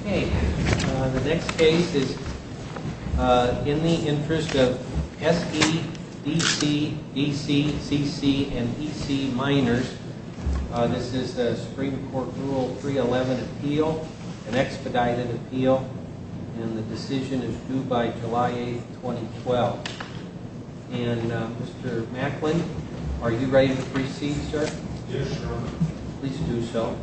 Okay, the next case is in the interest of S.E., D.C., D.C., C.C., & E.C., Minors. This is a Supreme Court Rule 311 appeal, an expedited appeal, and the decision is due by July 8, 2012. And Mr. Macklin, are you ready to proceed, sir? Yes, sir. Please do so. Okay.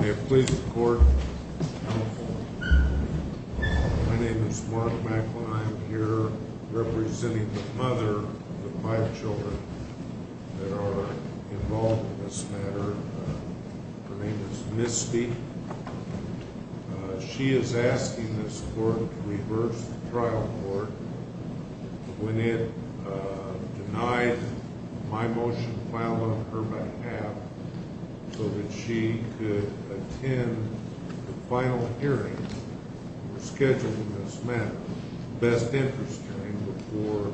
May it please the Court, I'm here representing the mother of the five children that are involved in this matter. Her name is Misty. She is asking this Court to reverse the trial court. When it denied my motion to file on her behalf so that she could attend the final hearing scheduled in this matter, the best interest hearing, before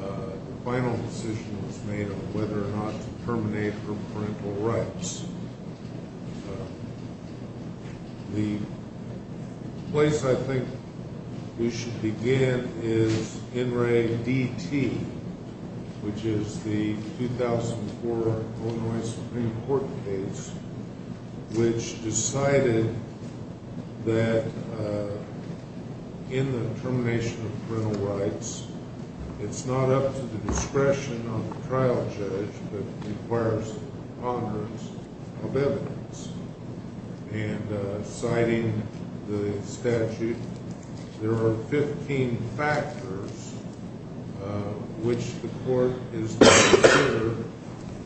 the final decision was made on whether or not to terminate her parental rights. The place I think we should begin is NRADT, which is the 2004 Illinois Supreme Court case, which decided that in the termination of parental rights, it's not up to the discretion of the trial judge, but requires a preponderance of evidence. And citing the statute, there are 15 factors which the Court is not considered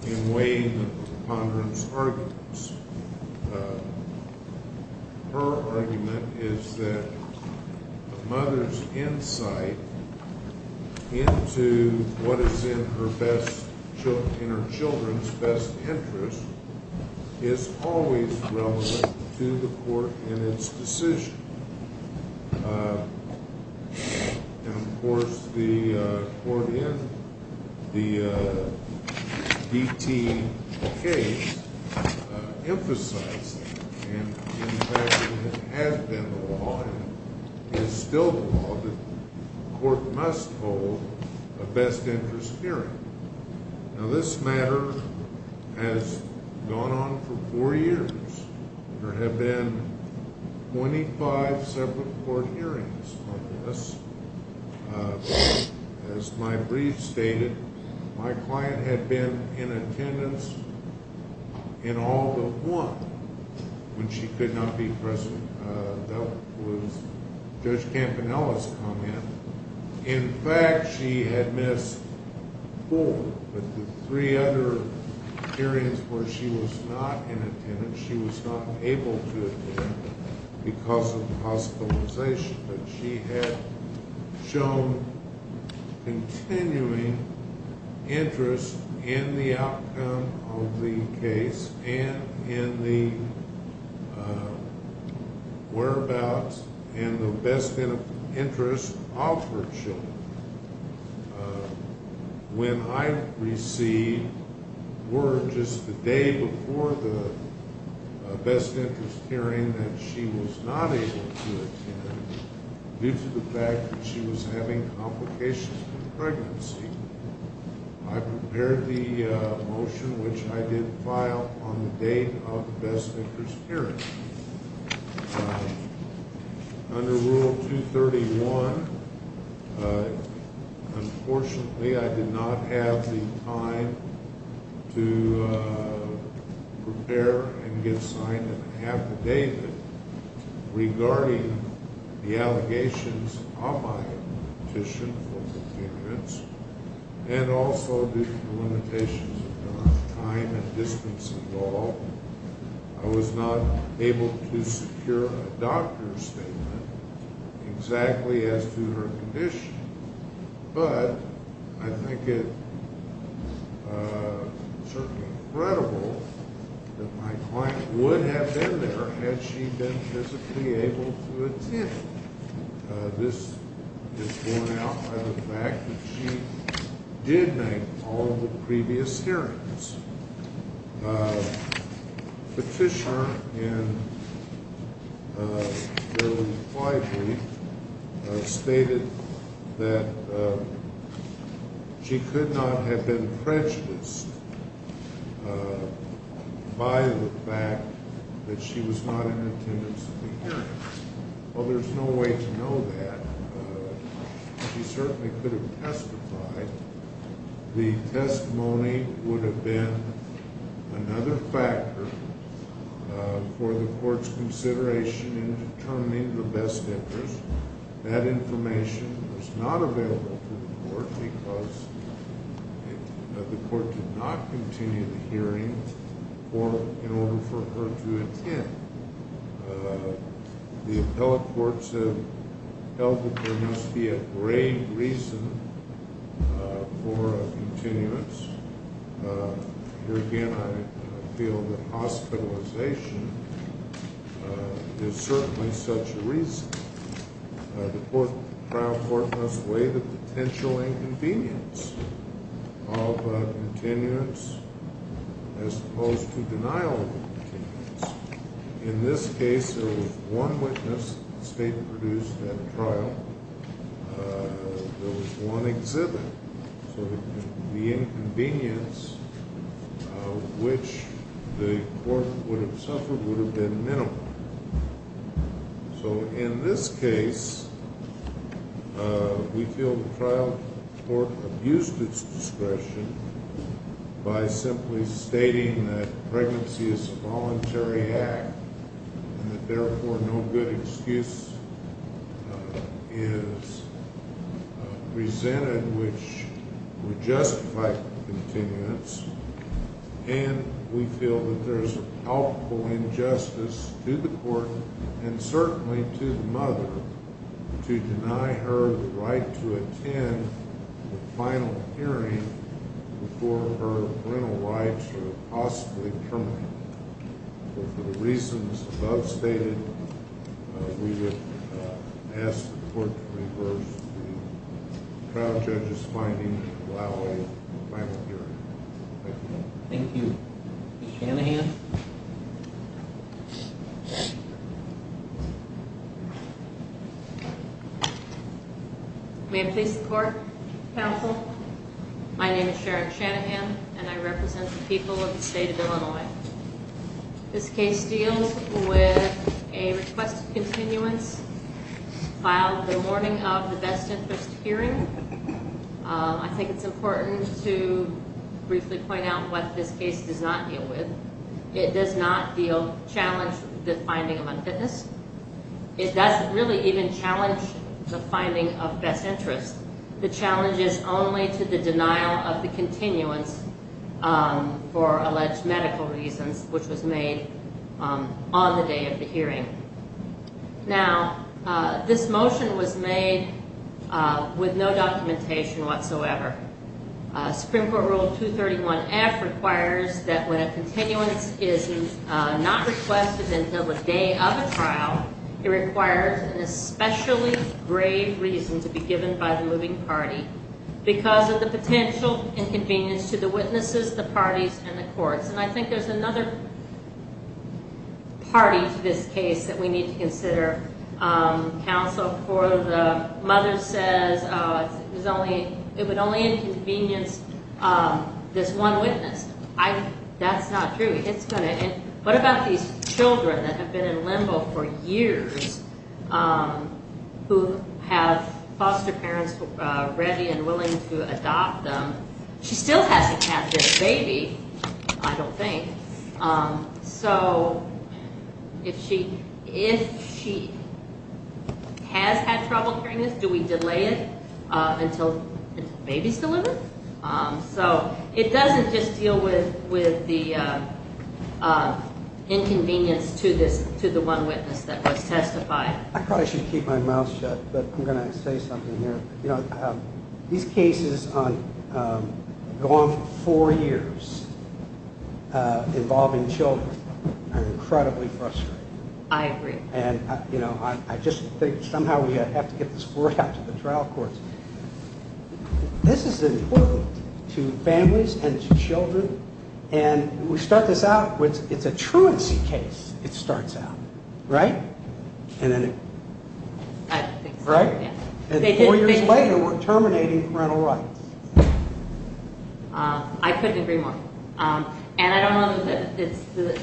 in weighing the preponderance arguments. Her argument is that a mother's insight into what is in her children's best interest is always relevant to the Court in its decision. And of course, the Court in the DT case emphasized that. And in fact, it has been the law, and is still the law, that the Court must hold a best interest hearing. Now this matter has gone on for four years. There have been 25 separate court hearings on this. As my brief stated, my client had been in attendance in all but one when she could not be present. That was Judge Campanella's comment. In fact, she had missed four, but the three other hearings where she was not in attendance, she was not able to attend because of hospitalization. But she had shown continuing interest in the outcome of the case and in the whereabouts and the best interest of her children. When I received word just the day before the best interest hearing that she was not able to attend due to the fact that she was having complications with pregnancy, I prepared the motion which I did file on the date of the best interest hearing. Under Rule 231, unfortunately, I did not have the time to prepare and get signed an affidavit regarding the allegations of my petition for continuance, and also due to the limitations of time and distance involved. I was not able to secure a doctor's statement exactly as to her condition, but I think it's certainly credible that my client would have been there had she been physically able to attend. This is borne out by the fact that she did make all of the previous hearings. Petitioner in their reply brief stated that she could not have been prejudiced by the fact that she was not in attendance at the hearings. Well, there's no way to know that. She certainly could have testified. The testimony would have been another factor for the court's consideration in determining the best interest. That information was not available to the court because the court did not continue the hearings in order for her to attend. The appellate courts have held that there must be a grave reason for a continuance. Here again, I feel that hospitalization is certainly such a reason. The trial court must weigh the potential inconvenience of continuance as opposed to denial of continuance. In this case, there was one witness that the state produced at a trial. There was one exhibit. So the inconvenience of which the court would have suffered would have been minimal. So in this case, we feel the trial court abused its discretion by simply stating that pregnancy is a voluntary act and that therefore no good excuse is presented which would justify continuance. And we feel that there's a palpable injustice to the court and certainly to the mother to deny her the right to attend the final hearing before her parental rights are possibly terminated. For the reasons above stated, we would ask the court to reverse the trial judge's finding and allow a final hearing. Thank you. Thank you. Ms. Shanahan? May I please report, counsel? My name is Sharon Shanahan and I represent the people of the state of Illinois. This case deals with a request of continuance filed the morning of the best interest hearing. I think it's important to briefly point out what this case does not deal with. It does not challenge the finding of unfitness. It doesn't really even challenge the finding of best interest. The challenge is only to the denial of the continuance for alleged medical reasons which was made on the day of the hearing. Now, this motion was made with no documentation whatsoever. Supreme Court Rule 231F requires that when a continuance is not requested until the day of a trial, it requires an especially grave reason to be given by the moving party because of the potential inconvenience to the witnesses, the parties, and the courts. And I think there's another party to this case that we need to consider. Counsel, the mother says it would only inconvenience this one witness. That's not true. What about these children that have been in limbo for years who have foster parents ready and willing to adopt them? She still hasn't had this baby, I don't think. So if she has had trouble hearing this, do we delay it until the baby's delivered? So it doesn't just deal with the inconvenience to the one witness that was testified. I probably should keep my mouth shut, but I'm going to say something here. These cases go on for four years involving children are incredibly frustrating. I agree. And I just think somehow we have to get this brought out to the trial courts. This is important to families and to children, and we start this out with it's a truancy case, it starts out, right? I don't think so. And four years later we're terminating parental rights. I couldn't agree more. And I don't know,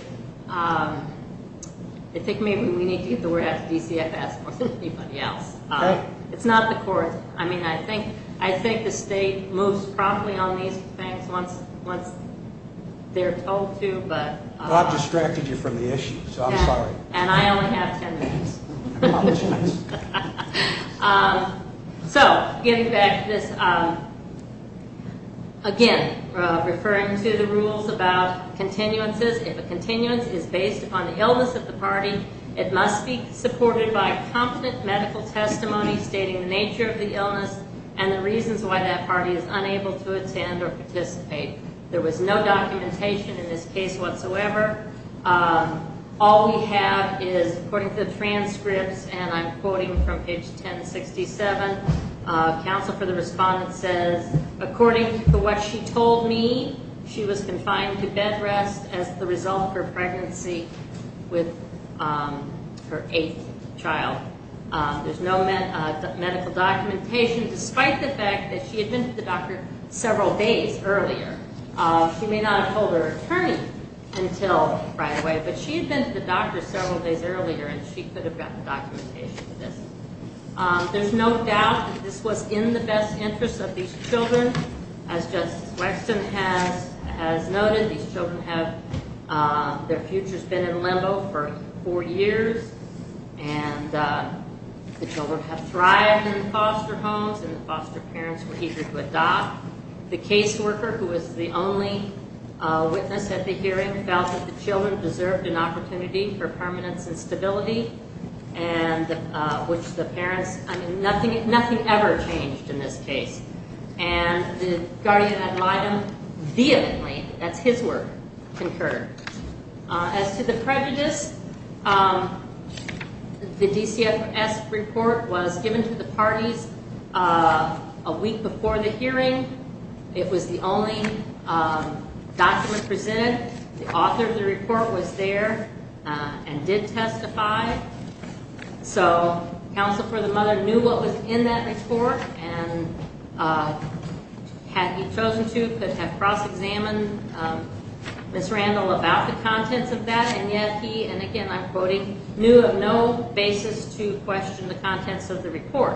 I think maybe we need to get the word out to DCFS more than anybody else. It's not the courts. I mean, I think the state moves promptly on these things once they're told to. Well, I've distracted you from the issue, so I'm sorry. And I only have ten minutes. So getting back to this, again, referring to the rules about continuances. If a continuance is based upon the illness of the party, it must be supported by competent medical testimony stating the nature of the illness and the reasons why that party is unable to attend or participate. There was no documentation in this case whatsoever. All we have is, according to the transcripts, and I'm quoting from page 1067, counsel for the respondent says, according to what she told me, she was confined to bed rest as the result of her pregnancy with her eighth child. There's no medical documentation, despite the fact that she had been to the doctor several days earlier. She may not have told her attorney until right away, but she had been to the doctor several days earlier, and she could have gotten documentation for this. There's no doubt that this was in the best interest of these children. As Justice Weston has noted, these children have, their future's been in limbo for four years, and the children have thrived in foster homes, and the foster parents were eager to adopt. The caseworker, who was the only witness at the hearing, felt that the children deserved an opportunity for permanence and stability, and which the parents, I mean, nothing ever changed in this case. And the guardian ad litem vehemently, that's his word, concurred. As to the prejudice, the DCFS report was given to the parties a week before the hearing. It was the only document presented. The author of the report was there and did testify. So counsel for the mother knew what was in that report, and had he chosen to, he could have cross-examined Ms. Randall about the contents of that, and yet he, and again I'm quoting, knew of no basis to question the contents of the report.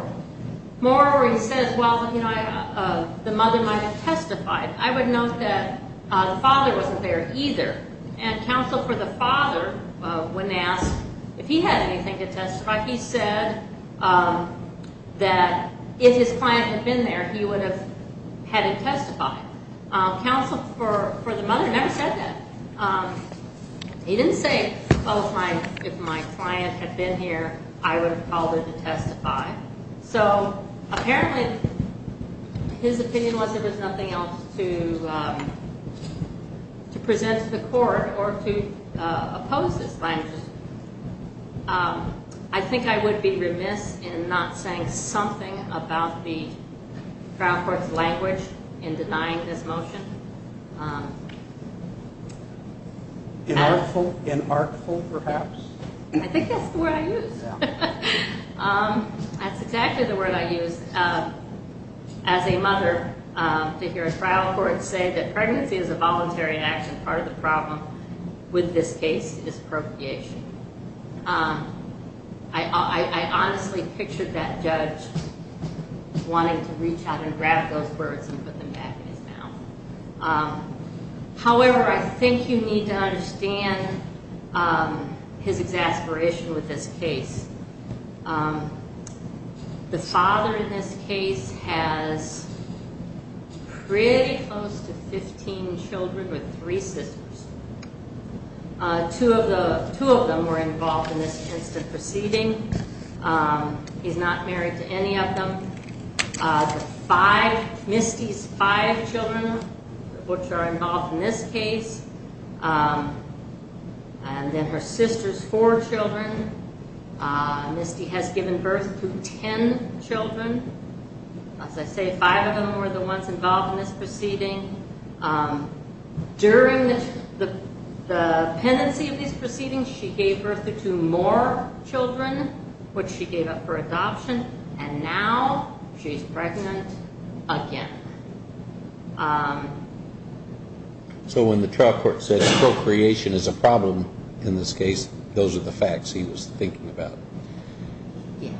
Moreover, he says, well, you know, the mother might have testified. I would note that the father wasn't there either, and counsel for the father, when asked if he had anything to testify, he said that if his client had been there, he would have had him testify. Counsel for the mother never said that. He didn't say, oh, if my client had been here, I would have called her to testify. So apparently his opinion was there was nothing else to present to the court or to oppose this claim. I think I would be remiss in not saying something about the trial court's language in denying this motion. Inartful, perhaps? I think that's the word I used. That's exactly the word I used. As a mother, to hear a trial court say that pregnancy is a voluntary action, part of the problem with this case is procreation. I honestly pictured that judge wanting to reach out and grab those words and put them back in his mouth. However, I think you need to understand his exasperation with this case. The father in this case has pretty close to 15 children with three sisters. Two of them were involved in this incident proceeding. He's not married to any of them. Misty's five children, which are involved in this case, and then her sister's four children. Misty has given birth to 10 children. As I say, five of them were the ones involved in this proceeding. During the pendency of these proceedings, she gave birth to two more children, which she gave up for adoption, and now she's pregnant again. So when the trial court says procreation is a problem in this case, those are the facts he was thinking about? Yeah.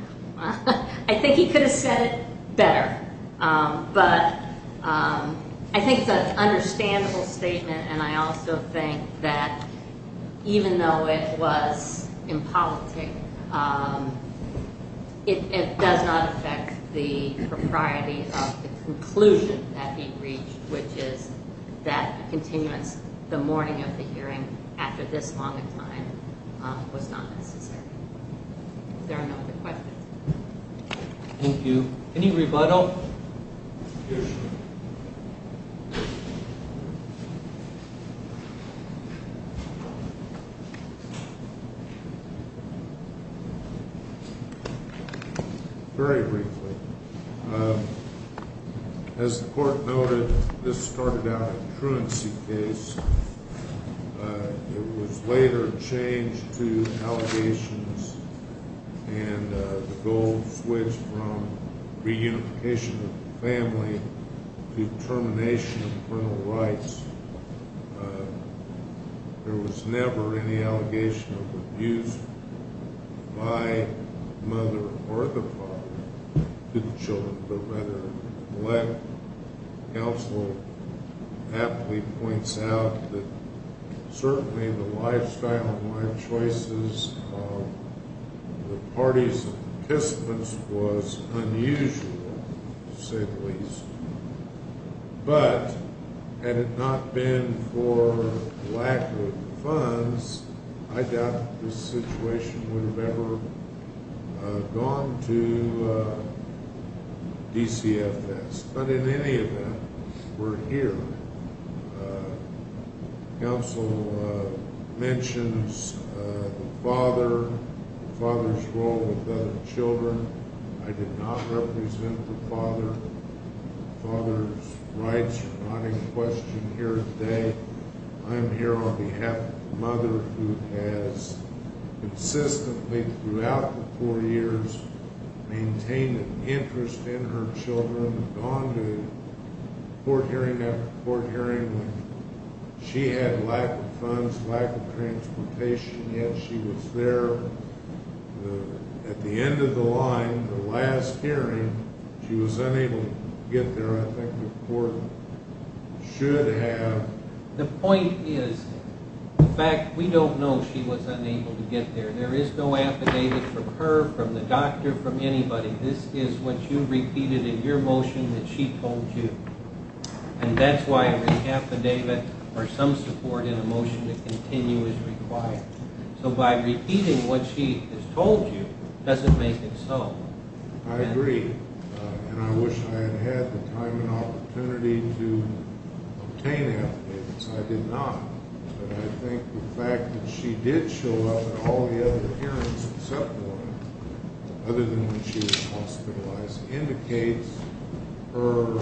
I think he could have said it better, but I think it's an understandable statement, and I also think that even though it was impolitic, it does not affect the propriety of the conclusion that he reached, which is that a continuance the morning of the hearing after this long a time was not necessary. Is there another question? Thank you. Any rebuttal? Very briefly. As the court noted, this started out a truancy case. It was later changed to allegations, and the goal switched from reunification of the family to termination of parental rights. There was never any allegation of abuse by the mother or the father to the children, but whether the lack of counsel aptly points out that certainly the lifestyle and life choices of the parties and participants was unusual, to say the least. But had it not been for lack of funds, I doubt this situation would have ever gone to DCFS. But in any event, we're here. Counsel mentions the father, the father's role with the children. I did not represent the father. The father's rights are not in question here today. I'm here on behalf of the mother who has consistently throughout the four years maintained an interest in her children, gone to court hearing after court hearing when she had lack of funds, lack of transportation, yet she was there. At the end of the line, the last hearing, she was unable to get there, I think the court should have. The point is, in fact, we don't know she was unable to get there. There is no affidavit from her, from the doctor, from anybody. This is what you repeated in your motion that she told you, and that's why an affidavit or some support in a motion to continue is required. So by repeating what she has told you doesn't make it so. I agree. And I wish I had had the time and opportunity to obtain affidavits. I did not. But I think the fact that she did show up at all the other hearings except one, other than when she was hospitalized, indicates her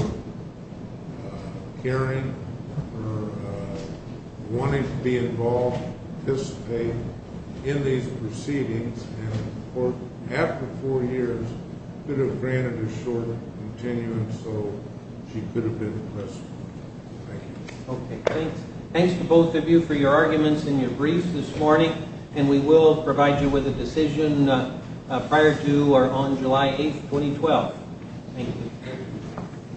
caring, her wanting to be involved, participate in these proceedings, and after four years, could have granted a shorter continuum so she could have been arrested. Thank you. Okay, thanks. Thanks to both of you for your arguments and your briefs this morning, and we will provide you with a decision prior to or on July 8, 2012. Thank you.